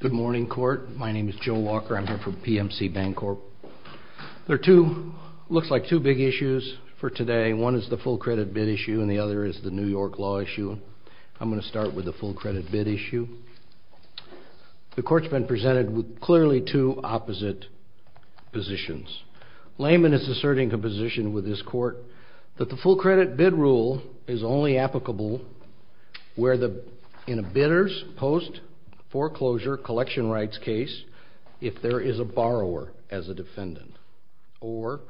Good morning, court. My name is Joe Walker. I'm here for PMC Bancorp. There are two, looks like two big issues for today. One is the full credit bid issue and the other is the New York law issue. I'm going to start with the full credit bid issue. The court's been positions. Layman is asserting a position with this court that the full credit bid rule is only applicable in a bidder's post foreclosure collection rights case if there is a borrower as a defendant or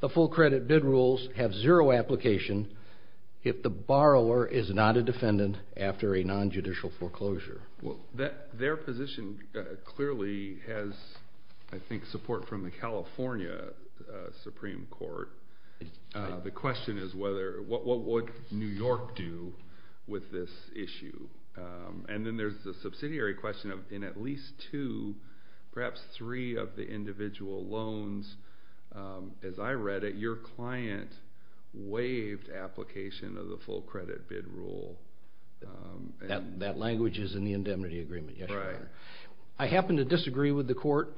the full credit bid rules have zero application if the borrower is not a defendant after a non-judicial foreclosure. Their position clearly has, I think, supported from the California Supreme Court. The question is what would New York do with this issue? And then there's the subsidiary question of in at least two, perhaps three of the individual loans, as I read it, your client waived application of the full credit bid rule. That language is in the indemnity agreement. I happen to disagree with the court.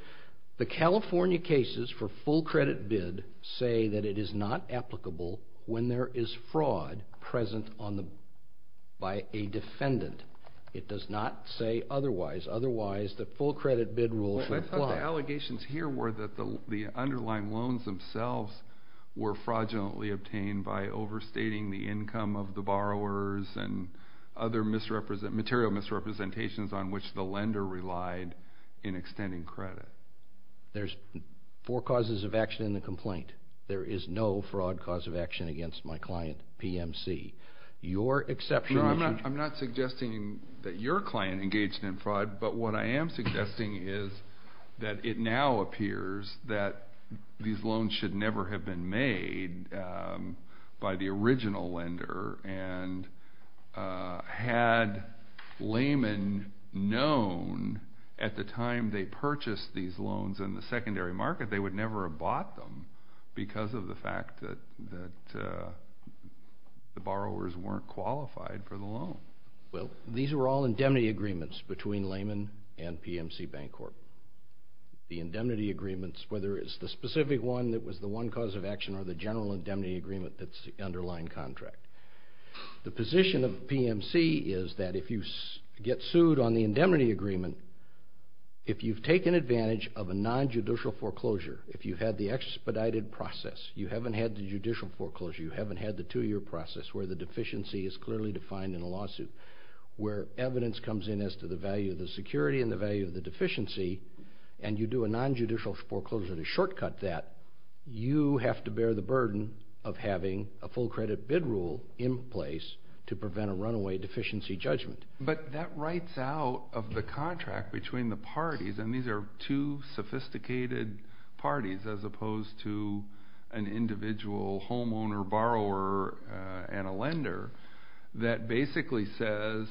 The California cases for full credit bid say that it is not applicable when there is fraud present by a defendant. It does not say otherwise. Otherwise, the full credit bid rule. I thought the allegations here were that the underlying loans themselves were fraudulently obtained by overstating the income of the borrowers and other material misrepresentations on which the lender relied in extending credit. There's four causes of action in the complaint. There is no fraud cause of action against my client, PMC. Your exception... I'm not suggesting that your client engaged in fraud, but what I am suggesting is that it now appears that these loans should never have been made by the original lender, and had Lehman known at the time they purchased these loans in the secondary market, they would never have bought them because of the fact that the borrowers weren't qualified for the loan. Well, these are all indemnity agreements between Lehman and PMC Bank Corp. The indemnity agreements, whether it's the specific one that was the one cause of action or the general indemnity agreement that's the underlying contract. The position of PMC is that if you get sued on the indemnity agreement, if you've taken advantage of a non-judicial foreclosure, if you've had the expedited process, you haven't had the judicial foreclosure, you haven't had the two-year process where the deficiency is clearly defined in a lawsuit, where evidence comes in as to the value of the security and the value of the deficiency, and you do a non-judicial foreclosure to shortcut that, you have to bear the burden of having a full credit bid rule in place to prevent a runaway deficiency judgment. But that writes out of the contract between the parties, and these are two sophisticated parties as opposed to an individual homeowner, borrower, and a lender, that basically says,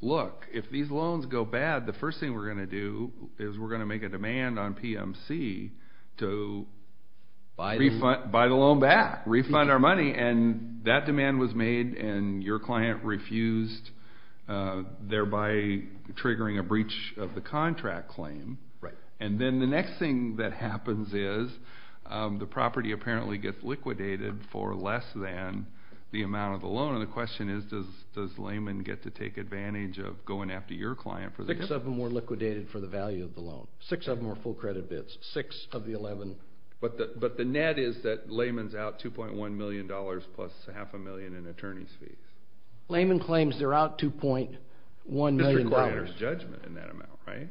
look, if these loans go bad, the first thing we're going to do is we're going to make a PMC to buy the loan back, refund our money, and that demand was made, and your client refused, thereby triggering a breach of the contract claim. And then the next thing that happens is the property apparently gets liquidated for less than the amount of the loan, and the question is, does Lehman get to take advantage of going after your client for the debt? Six of them were liquidated for the value of the loan. Six of them were full credit bids. Six of the 11. But the net is that Lehman's out $2.1 million plus half a million in attorney's fees. Lehman claims they're out $2.1 million. Mr. Glanter's judgment in that amount, right?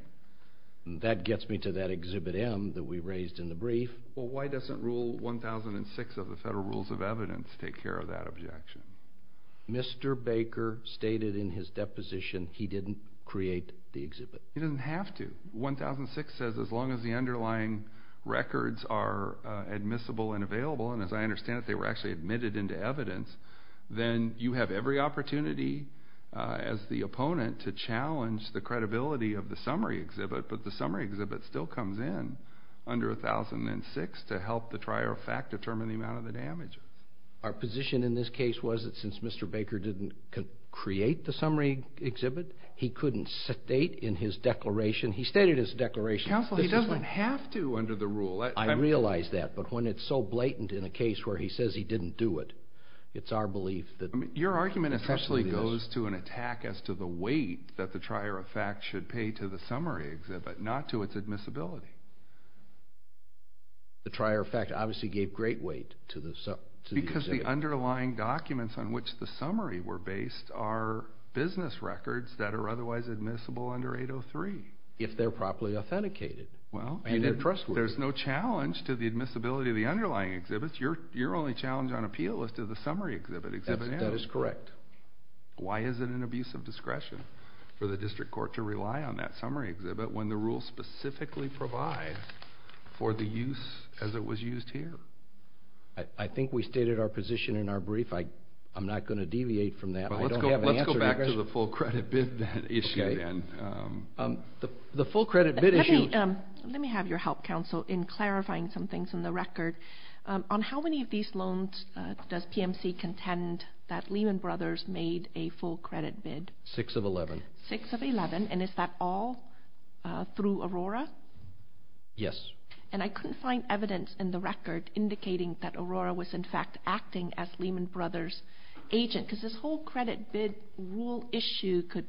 That gets me to that Exhibit M that we raised in the brief. Well, why doesn't Rule 1006 of the Federal Rules of Evidence take care of that objection? Mr. Baker stated in his deposition he didn't create the exhibit. He doesn't have to. 1006 says as long as the underlying records are admissible and available, and as I understand it, they were actually admitted into evidence, then you have every opportunity as the opponent to challenge the credibility of the summary exhibit, but the summary exhibit still comes in under 1006 to help the trier of fact determine the amount of the damages. Our position in this case was that since Mr. Baker didn't create the summary exhibit, he couldn't state in his declaration. He stated his declaration. Counsel, he doesn't have to under the rule. I realize that, but when it's so blatant in a case where he says he didn't do it, it's our belief that your argument essentially goes to an attack as to the weight that the trier of fact should pay to the summary exhibit, not to its admissibility. The trier of fact obviously gave great weight to the exhibit. Because the underlying documents on which the summary were based are business records that are otherwise admissible under 803. If they're properly authenticated. Well, there's no challenge to the admissibility of the underlying exhibits. Your only challenge on appeal is to the summary exhibit. That is correct. Why is it an abuse of discretion for the district court to rely on that summary exhibit when the rule specifically provides for the use as it was used here? I think we stated our position in our brief. I'm not going to deviate from that. I don't have an answer to your question. Let's go back to the full credit bid issue then. The full credit bid issue. Let me have your help, counsel, in clarifying some things in the record. On how many of these loans does PMC contend that Lehman Brothers made a full credit bid? Six of 11. Six of 11. And is that all through Aurora? Yes. And I couldn't find evidence in the record indicating that Aurora was, in fact, acting as Lehman Brothers' agent because this whole credit bid rule issue could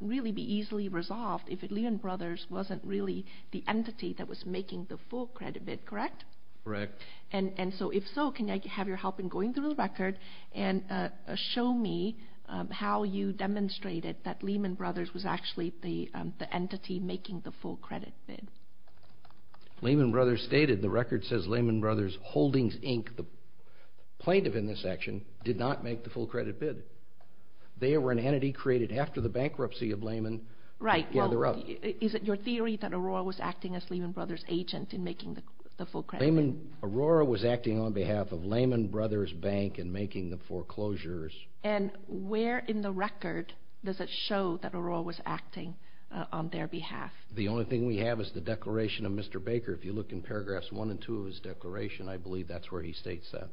really be easily resolved if Lehman Brothers wasn't really the entity that was making the full credit bid, correct? Correct. And so, if so, can I have your help in going through the record and show me how you demonstrated that Lehman Brothers was actually the entity making the full credit bid? Lehman Brothers stated, the record says Lehman Brothers Holdings, Inc., the plaintiff in this section, did not make the full credit bid. They were an entity created after the bankruptcy of Lehman. Right. Is it your theory that Aurora was acting as Lehman Brothers' agent in making the full credit bid? Aurora was acting on behalf of Lehman Brothers Bank in making the foreclosures. And where in the record does it show that Aurora was acting on their behalf? The only thing we have is the declaration of Mr. Baker. If you look in paragraphs 1 and 2 of his declaration, I believe that's where he states that.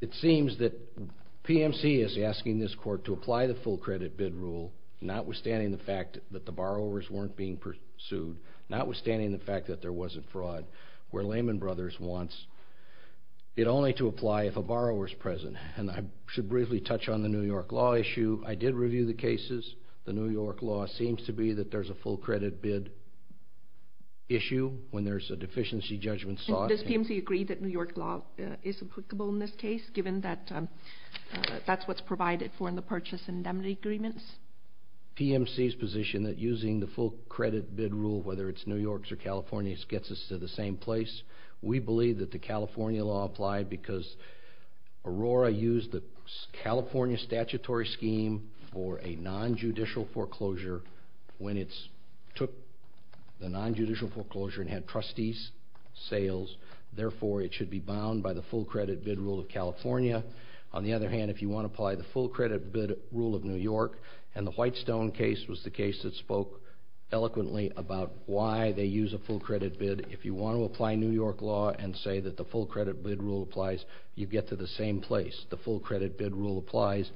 It seems that PMC is asking this court to apply the full credit bid rule, notwithstanding the fact that the borrowers weren't being pursued, notwithstanding the fact that there wasn't fraud, where Lehman Brothers wants it only to apply if a borrower's present. And I should briefly touch on the New York law issue. I did review the cases. The New York law seems to be that there's a full credit bid issue when there's a deficiency judgment sought. And does PMC agree that New York law is applicable in this case, given that that's what's provided for in the purchase and indemnity agreements? PMC's position that using the full credit bid rule, whether it's New York's or California's, gets us to the same place. We believe that the California law applied because Aurora used the California statutory scheme for a nonjudicial foreclosure when it took the nonjudicial foreclosure and had trustees' sales. Therefore, it should be bound by the full credit bid rule of California. On the other hand, if you want to apply the full credit bid rule of New York, and the you want to apply New York law and say that the full credit bid rule applies, you get to the same place. The full credit bid rule applies.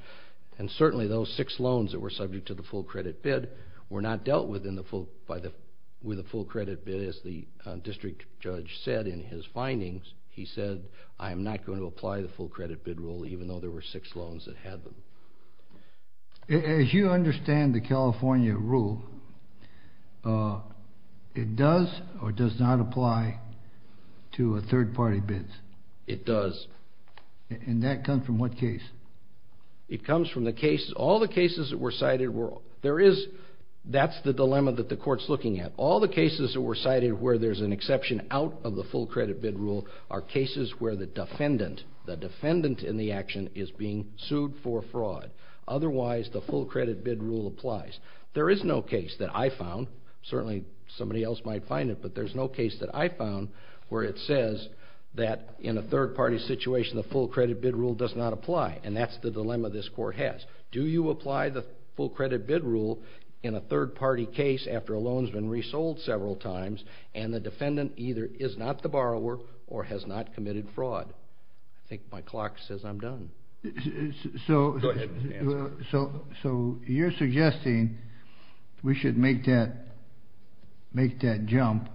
And certainly those six loans that were subject to the full credit bid were not dealt with the full credit bid, as the district judge said in his findings. He said, I am not going to apply the full credit bid rule, even though there were six loans that had them. As you understand the California rule, it does or does not apply to third-party bids? It does. And that comes from what case? It comes from the case, all the cases that were cited were, there is, that's the dilemma that the court's looking at. All the cases that were cited where there's an exception out of the full credit bid rule are cases where the defendant, the defendant in the action is being sued for fraud. Otherwise, the full credit bid rule applies. There is no case that I found, certainly somebody else might find it, but there's no case that I found where it says that in a third-party situation, the full credit bid rule does not apply. And that's the dilemma this court has. Do you apply the full credit bid rule in a third-party case after a loan's been resold several times and the defendant either is not the borrower or has not committed fraud? I think my clock says I'm done. So you're suggesting we should make that, make that jump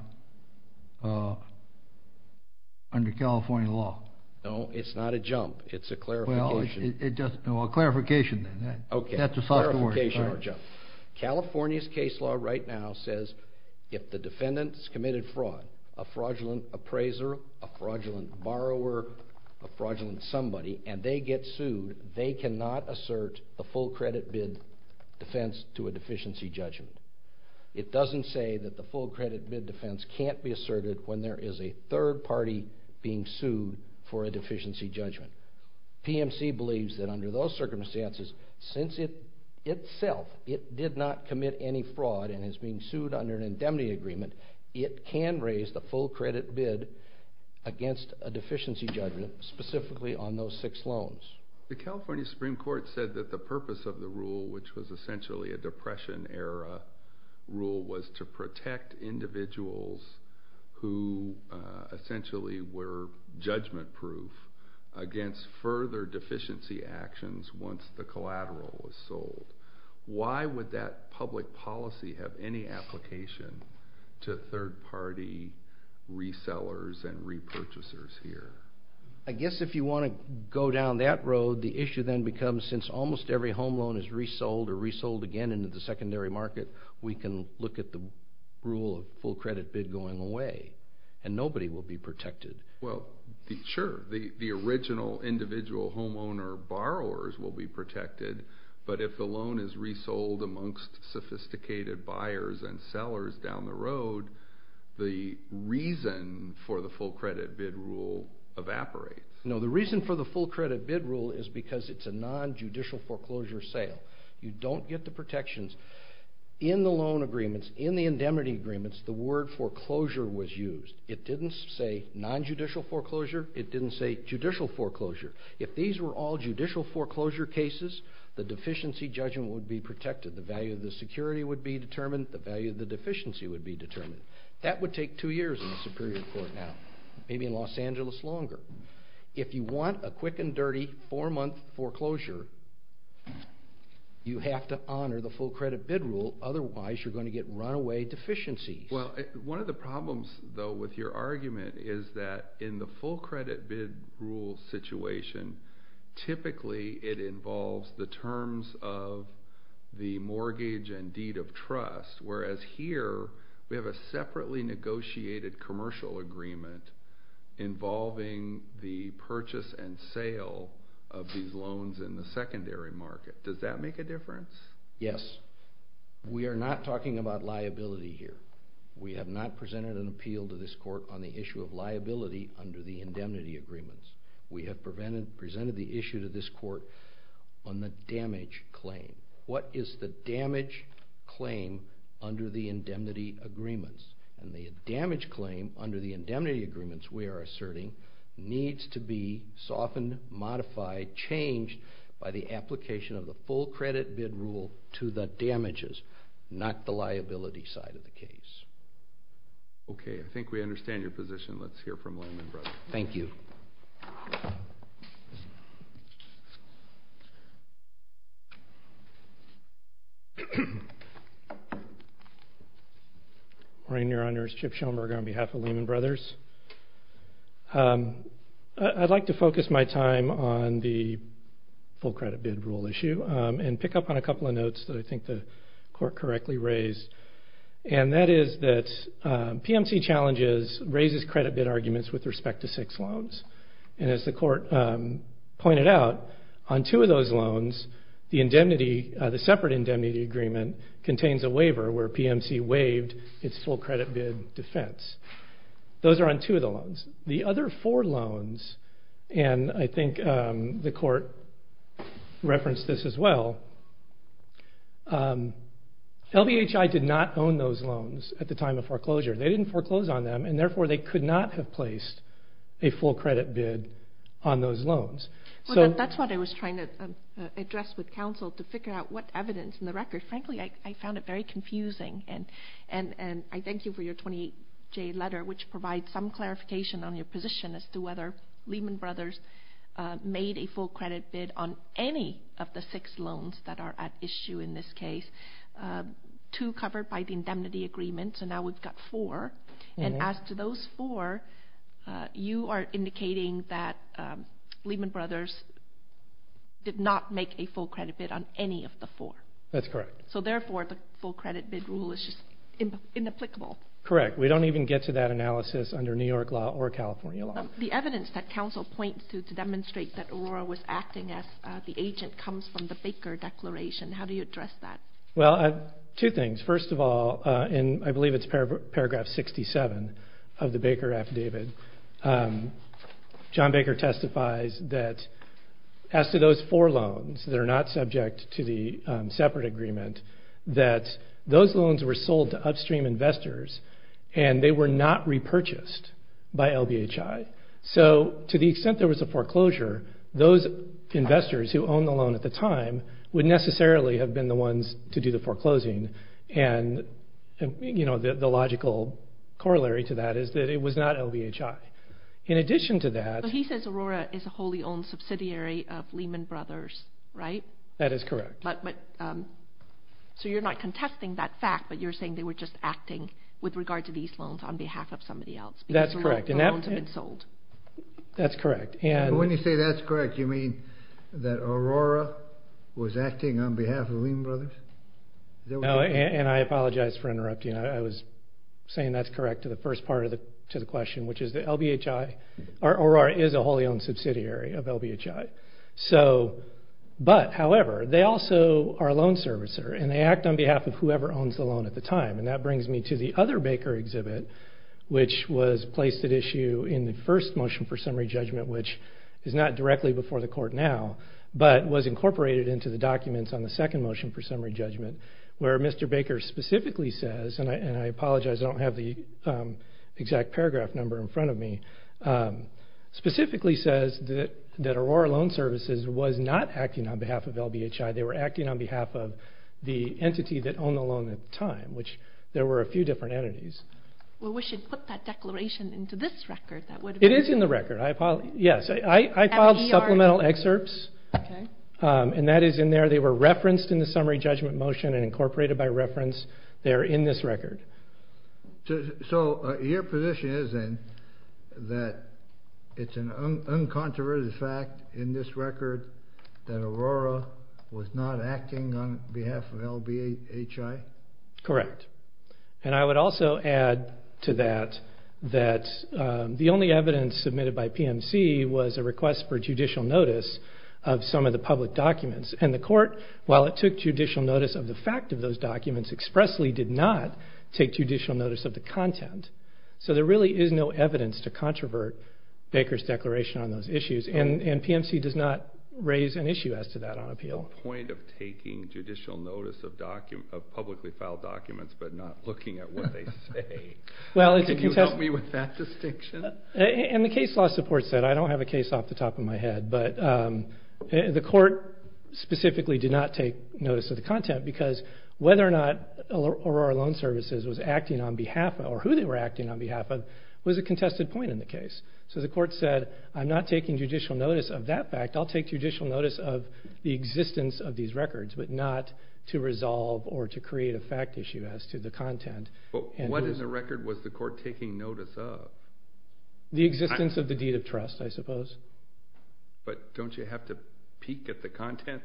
under California law? No, it's not a jump. It's a clarification. Well, it doesn't, no, a clarification then. Okay. That's a softer word. Clarification or jump. California's case law right now says if the defendant has committed fraud, a fraudulent appraiser, a fraudulent borrower, a fraudulent somebody, and they get sued, they cannot assert the full credit bid defense to a deficiency judgment. It doesn't say that the full credit bid defense can't be asserted when there is a third party being sued for a deficiency judgment. PMC believes that under those circumstances, since it itself, it did not commit any fraud and is being sued under an indemnity agreement, it can raise the full credit bid against a deficiency judgment specifically on those six loans. The California Supreme Court said that the purpose of the rule, which was essentially a depression era rule, was to protect individuals who essentially were judgment proof against further deficiency actions once the collateral was sold. Why would that public policy have any application to third party resellers and repurchasers here? I guess if you want to go down that road, the issue then becomes since almost every second into the secondary market, we can look at the rule of full credit bid going away and nobody will be protected. Well, sure, the original individual homeowner borrowers will be protected, but if the loan is resold amongst sophisticated buyers and sellers down the road, the reason for the full credit bid rule evaporates. No, the reason for the full credit bid rule is because it's a non-judicial foreclosure sale. You don't get the protections. In the loan agreements, in the indemnity agreements, the word foreclosure was used. It didn't say non-judicial foreclosure. It didn't say judicial foreclosure. If these were all judicial foreclosure cases, the deficiency judgment would be protected. The value of the security would be determined. The value of the deficiency would be determined. That would take two years in the Superior Court now, maybe in Los Angeles longer. If you want a quick and dirty four-month foreclosure, you have to honor the full credit bid rule. Otherwise, you're going to get runaway deficiencies. Well, one of the problems, though, with your argument is that in the full credit bid rule situation, typically it involves the terms of the mortgage and deed of trust, whereas here we have a separately negotiated commercial agreement involving the purchase and sale of these loans in the secondary market. Does that make a difference? Yes. We are not talking about liability here. We have not presented an appeal to this court on the issue of liability under the indemnity agreements. We have presented the issue to this court on the damage claim. What is the damage claim under the indemnity agreements? The damage claim under the indemnity agreements, we are asserting, needs to be softened, modified, changed by the application of the full credit bid rule to the damages, not the liability side of the case. Okay. I think we understand your position. Let's hear from Langman Brothers. Thank you. Morning, Your Honors, Chip Schoenberger on behalf of Langman Brothers. I'd like to focus my time on the full credit bid rule issue and pick up on a couple of notes that I think the court correctly raised, and that is that PMC challenges raises credit bid arguments with respect to six loans. And as the court pointed out, on two of those loans, the separate indemnity agreement contains a waiver where PMC waived its full credit bid defense. Those are on two of the loans. The other four loans, and I think the court referenced this as well, LBHI did not own those loans at the time of foreclosure. They didn't foreclose on them, and therefore they could not have placed a full credit bid on those loans. Well, that's what I was trying to address with counsel to figure out what evidence in the record. Frankly, I found it very confusing, and I thank you for your 28-J letter, which provides some clarification on your position as to whether Lehman Brothers made a full credit bid on any of the six loans that are at issue in this case, two covered by the indemnity agreement, so now we've got four. And as to those four, you are indicating that Lehman Brothers did not make a full credit bid on any of the four. That's correct. So therefore, the full credit bid rule is just inapplicable. Correct. We don't even get to that analysis under New York law or California law. The evidence that counsel points to to demonstrate that Aurora was acting as the agent comes from the Baker Declaration, how do you address that? Well, two things. First of all, and I believe it's paragraph 67 of the Baker affidavit, John Baker testifies that as to those four loans that are not subject to the separate agreement, that those loans were sold to upstream investors, and they were not repurchased by LBHI. So to the extent there was a foreclosure, those investors who owned the loan at the time would necessarily have been the ones to do the foreclosing, and the logical corollary to that is that it was not LBHI. In addition to that... So he says Aurora is a wholly owned subsidiary of Lehman Brothers, right? That is correct. So you're not contesting that fact, but you're saying they were just acting with regard to these loans on behalf of somebody else, because the loans have been sold. That's correct. When you say that's correct, you mean that Aurora was acting on behalf of Lehman Brothers? And I apologize for interrupting. I was saying that's correct to the first part of the question, which is that Aurora is a wholly owned subsidiary of LBHI. But however, they also are a loan servicer, and they act on behalf of whoever owns the loan at the time, and that brings me to the other Baker exhibit, which was placed at issue in the first motion for summary judgment, which is not directly before the court now, but was incorporated into the documents on the second motion for summary judgment, where Mr. Baker specifically says, and I apologize, I don't have the exact paragraph number in front of me, specifically says that Aurora Loan Services was not acting on behalf of LBHI. They were acting on behalf of the entity that owned the loan at the time, which there were a few different entities. Well, we should put that declaration into this record, that would be good. It is in the record. Yes, I filed supplemental excerpts, and that is in there. They were referenced in the summary judgment motion and incorporated by reference. They are in this record. So your position is then that it's an uncontroverted fact in this record that Aurora was not acting on behalf of LBHI? Correct. And I would also add to that that the only evidence submitted by PMC was a request for judicial notice of some of the public documents, and the court, while it took judicial notice of the fact of those documents, expressly did not take judicial notice of the content. So there really is no evidence to controvert Baker's declaration on those issues, and PMC does not raise an issue as to that on appeal. Point of taking judicial notice of publicly filed documents but not looking at what they say. Can you help me with that distinction? And the case law support said, I don't have a case off the top of my head, but the court specifically did not take notice of the content because whether or not Aurora Loan Services was acting on behalf of, or who they were acting on behalf of, was a contested point in the case. So the court said, I'm not taking judicial notice of that fact, I'll take judicial notice of the existence of these records, but not to resolve or to create a fact issue as to the content. But what in the record was the court taking notice of? The existence of the deed of trust, I suppose. But don't you have to peek at the content?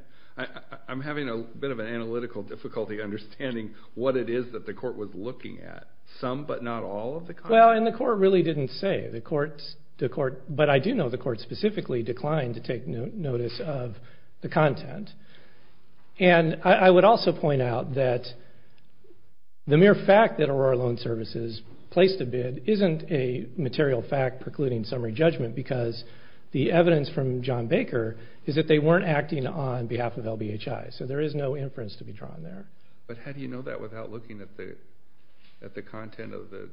I'm having a bit of an analytical difficulty understanding what it is that the court was looking at. Some but not all of the content? Well, and the court really didn't say. But I do know the court specifically declined to take notice of the content. And I would also point out that the mere fact that Aurora Loan Services placed a bid isn't a material fact precluding summary judgment because the evidence from John Baker is that they weren't acting on behalf of LBHI. So there is no inference to be drawn there. But how do you know that without looking at the content of the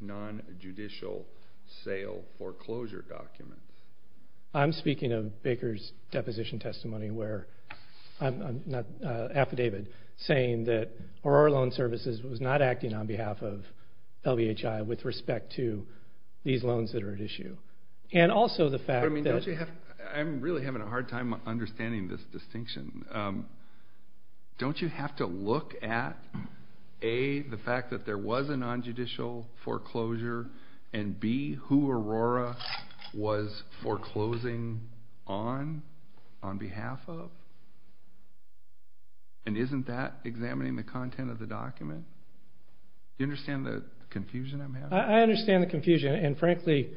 non-judicial sale foreclosure documents? I'm speaking of Baker's deposition testimony where I'm not affidavit saying that Aurora Loan Services was not acting on behalf of LBHI with respect to these loans that are at issue. And also the fact that- I'm really having a hard time understanding this distinction. Don't you have to look at A, the fact that there was a non-judicial foreclosure and B, who Aurora was foreclosing on, on behalf of? And isn't that examining the content of the document? Do you understand the confusion I'm having? I understand the confusion. And frankly,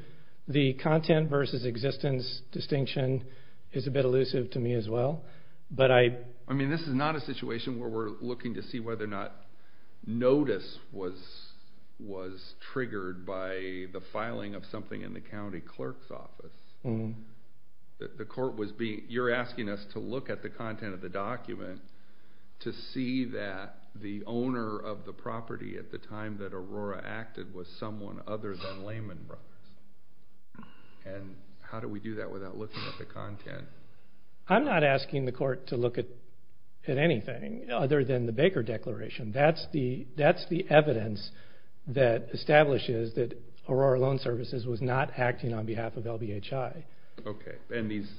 the content versus existence distinction is a bit elusive to me as well. But I- I mean, this is not a situation where we're looking to see whether or not notice was triggered by the filing of something in the county clerk's office. The court was being- you're asking us to look at the content of the document to see that the owner of the property at the time that Aurora acted was someone other than Lehman Brothers. And how do we do that without looking at the content? I'm not asking the court to look at anything other than the Baker declaration. That's the evidence that establishes that Aurora Loan Services was not acting on behalf of LBHI. Okay. And these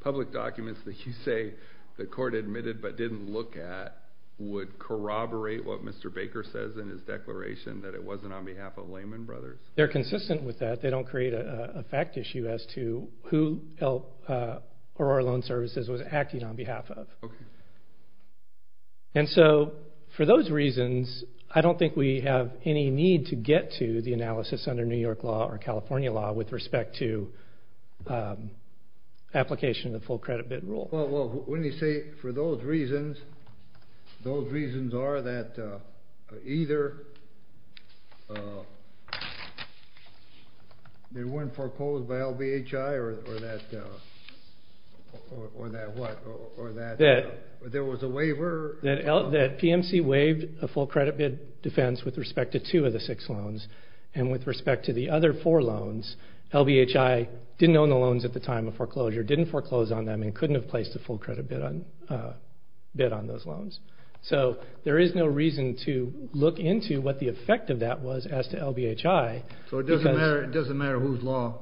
public documents that you say the court admitted but didn't look at would corroborate what Mr. Baker says in his declaration, that it wasn't on behalf of Lehman Brothers? They're consistent with that. They don't create a fact issue as to who Aurora Loan Services was acting on behalf of. And so, for those reasons, I don't think we have any need to get to the analysis under New York law or California law with respect to application of the full credit bid rule. Well, when you say for those reasons, those reasons are that either they weren't proposed by LBHI or that- or that what? Or that there was a waiver? That PMC waived a full credit bid defense with respect to two of the six loans and with respect to the other four loans, LBHI didn't own the loans at the time of foreclosure, didn't foreclose on them, and couldn't have placed a full credit bid on those loans. So there is no reason to look into what the effect of that was as to LBHI because- So it doesn't matter whose law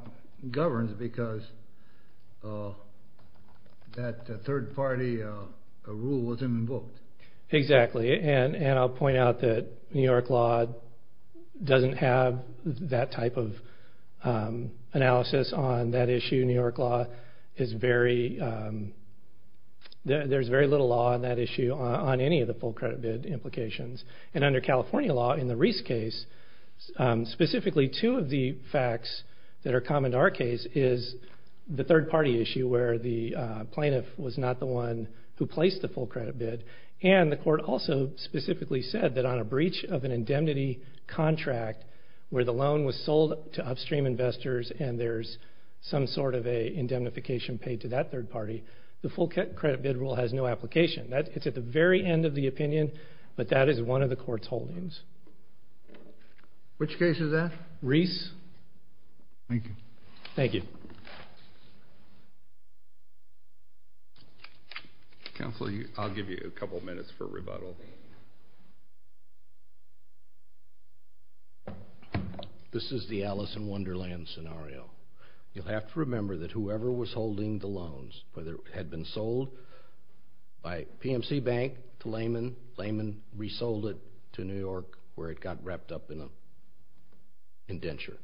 governs because that third party rule wasn't invoked. Exactly. And I'll point out that New York law doesn't have that type of analysis on that issue. New York law is very- there's very little law on that issue on any of the full credit bid implications. And under California law, in the Reese case, specifically two of the facts that are common to our case is the third party issue where the plaintiff was not the one who placed the loan. So specifically said that on a breach of an indemnity contract where the loan was sold to upstream investors and there's some sort of an indemnification paid to that third party, the full credit bid rule has no application. It's at the very end of the opinion, but that is one of the court's holdings. Which case is that? Reese. Thank you. Thank you. Counselor, I'll give you a couple minutes for rebuttal. This is the Alice in Wonderland scenario. You have to remember that whoever was holding the loans, whether it had been sold by PMC Bank to Lehman, Lehman resold it to New York where it got wrapped up in an indenture.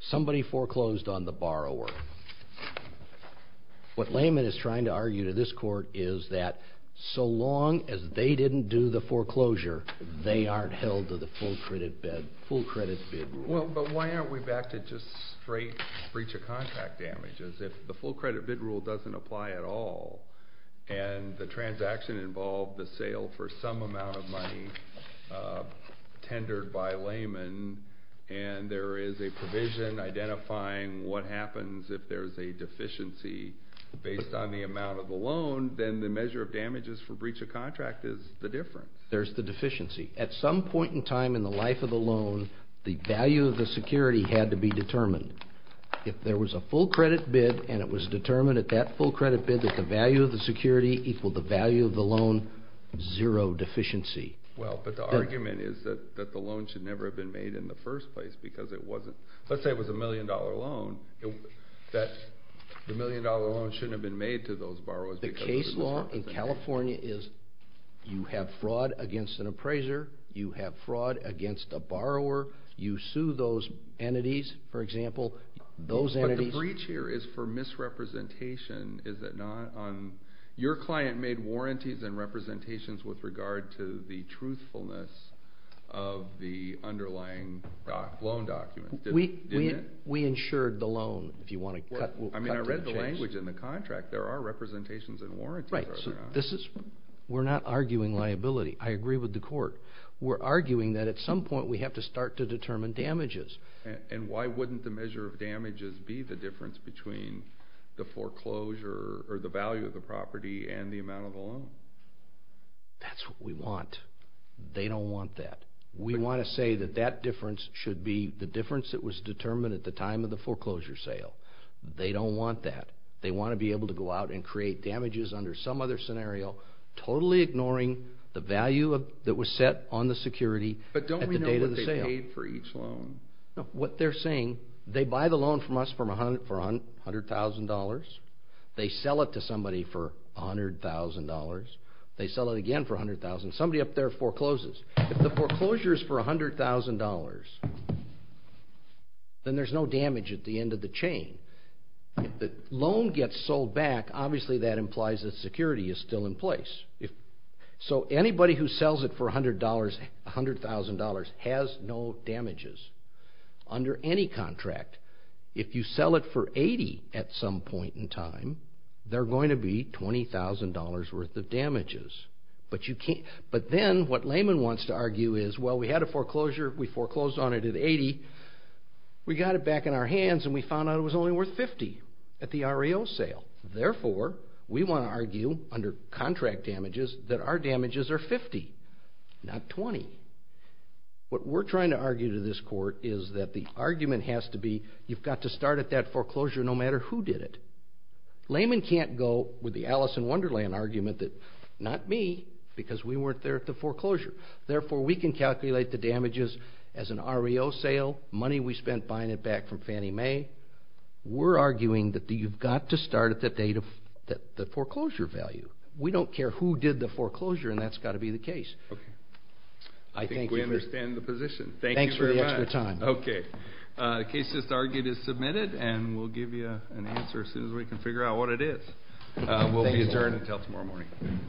Somebody foreclosed on the borrower. What Lehman is trying to argue to this court is that so long as they didn't do the foreclosure, they aren't held to the full credit bid rule. Well, but why aren't we back to just straight breach of contract damages if the full credit bid rule doesn't apply at all and the transaction involved the sale for some amount of money tendered by Lehman and there is a provision identifying what happens if there's a deficiency based on the amount of the loan, then the measure of damages for breach of contract is the difference. There's the deficiency. At some point in time in the life of the loan, the value of the security had to be determined. If there was a full credit bid and it was determined at that full credit bid that the value of the security equaled the value of the loan, zero deficiency. Well, but the argument is that the loan should never have been made in the first place because it wasn't. Let's say it was a million dollar loan, the million dollar loan shouldn't have been made to those borrowers. The case law in California is you have fraud against an appraiser. You have fraud against a borrower. You sue those entities, for example. Those entities. But the breach here is for misrepresentation, is it not? Your client made warranties and representations with regard to the truthfulness of the underlying loan document. Didn't it? We insured the loan. If you want to cut to the chase. I mean, I read the language in the contract. There are representations and warranties. We're not arguing liability. I agree with the court. We're arguing that at some point we have to start to determine damages. And why wouldn't the measure of damages be the difference between the foreclosure or the value of the property and the amount of the loan? That's what we want. They don't want that. We want to say that that difference should be the difference that was determined at the time of the foreclosure sale. They don't want that. They want to be able to go out and create damages under some other scenario, totally ignoring the value that was set on the security at the date of the sale. No, what they're saying, they buy the loan from us for $100,000. They sell it to somebody for $100,000. They sell it again for $100,000. Somebody up there forecloses. If the foreclosure is for $100,000, then there's no damage at the end of the chain. If the loan gets sold back, obviously that implies that security is still in place. So anybody who sells it for $100,000 has no damages under any contract. If you sell it for $80,000 at some point in time, they're going to be $20,000 worth of damages. But then what Lehman wants to argue is, well, we had a foreclosure. We foreclosed on it at $80,000. We got it back in our hands, and we found out it was only worth $50,000 at the REO sale. Therefore, we want to argue under contract damages that our damages are $50,000, not $20,000. What we're trying to argue to this court is that the argument has to be you've got to start at that foreclosure no matter who did it. Lehman can't go with the Alice in Wonderland argument that, not me, because we weren't there at the foreclosure. Therefore, we can calculate the damages as an REO sale, money we spent buying it back from Fannie Mae. We're arguing that you've got to start at the foreclosure value. We don't care who did the foreclosure, and that's got to be the case. I think we understand the position. Thank you very much. Okay. The case just argued is submitted, and we'll give you an answer as soon as we can figure out what it is. We'll be adjourned until tomorrow morning.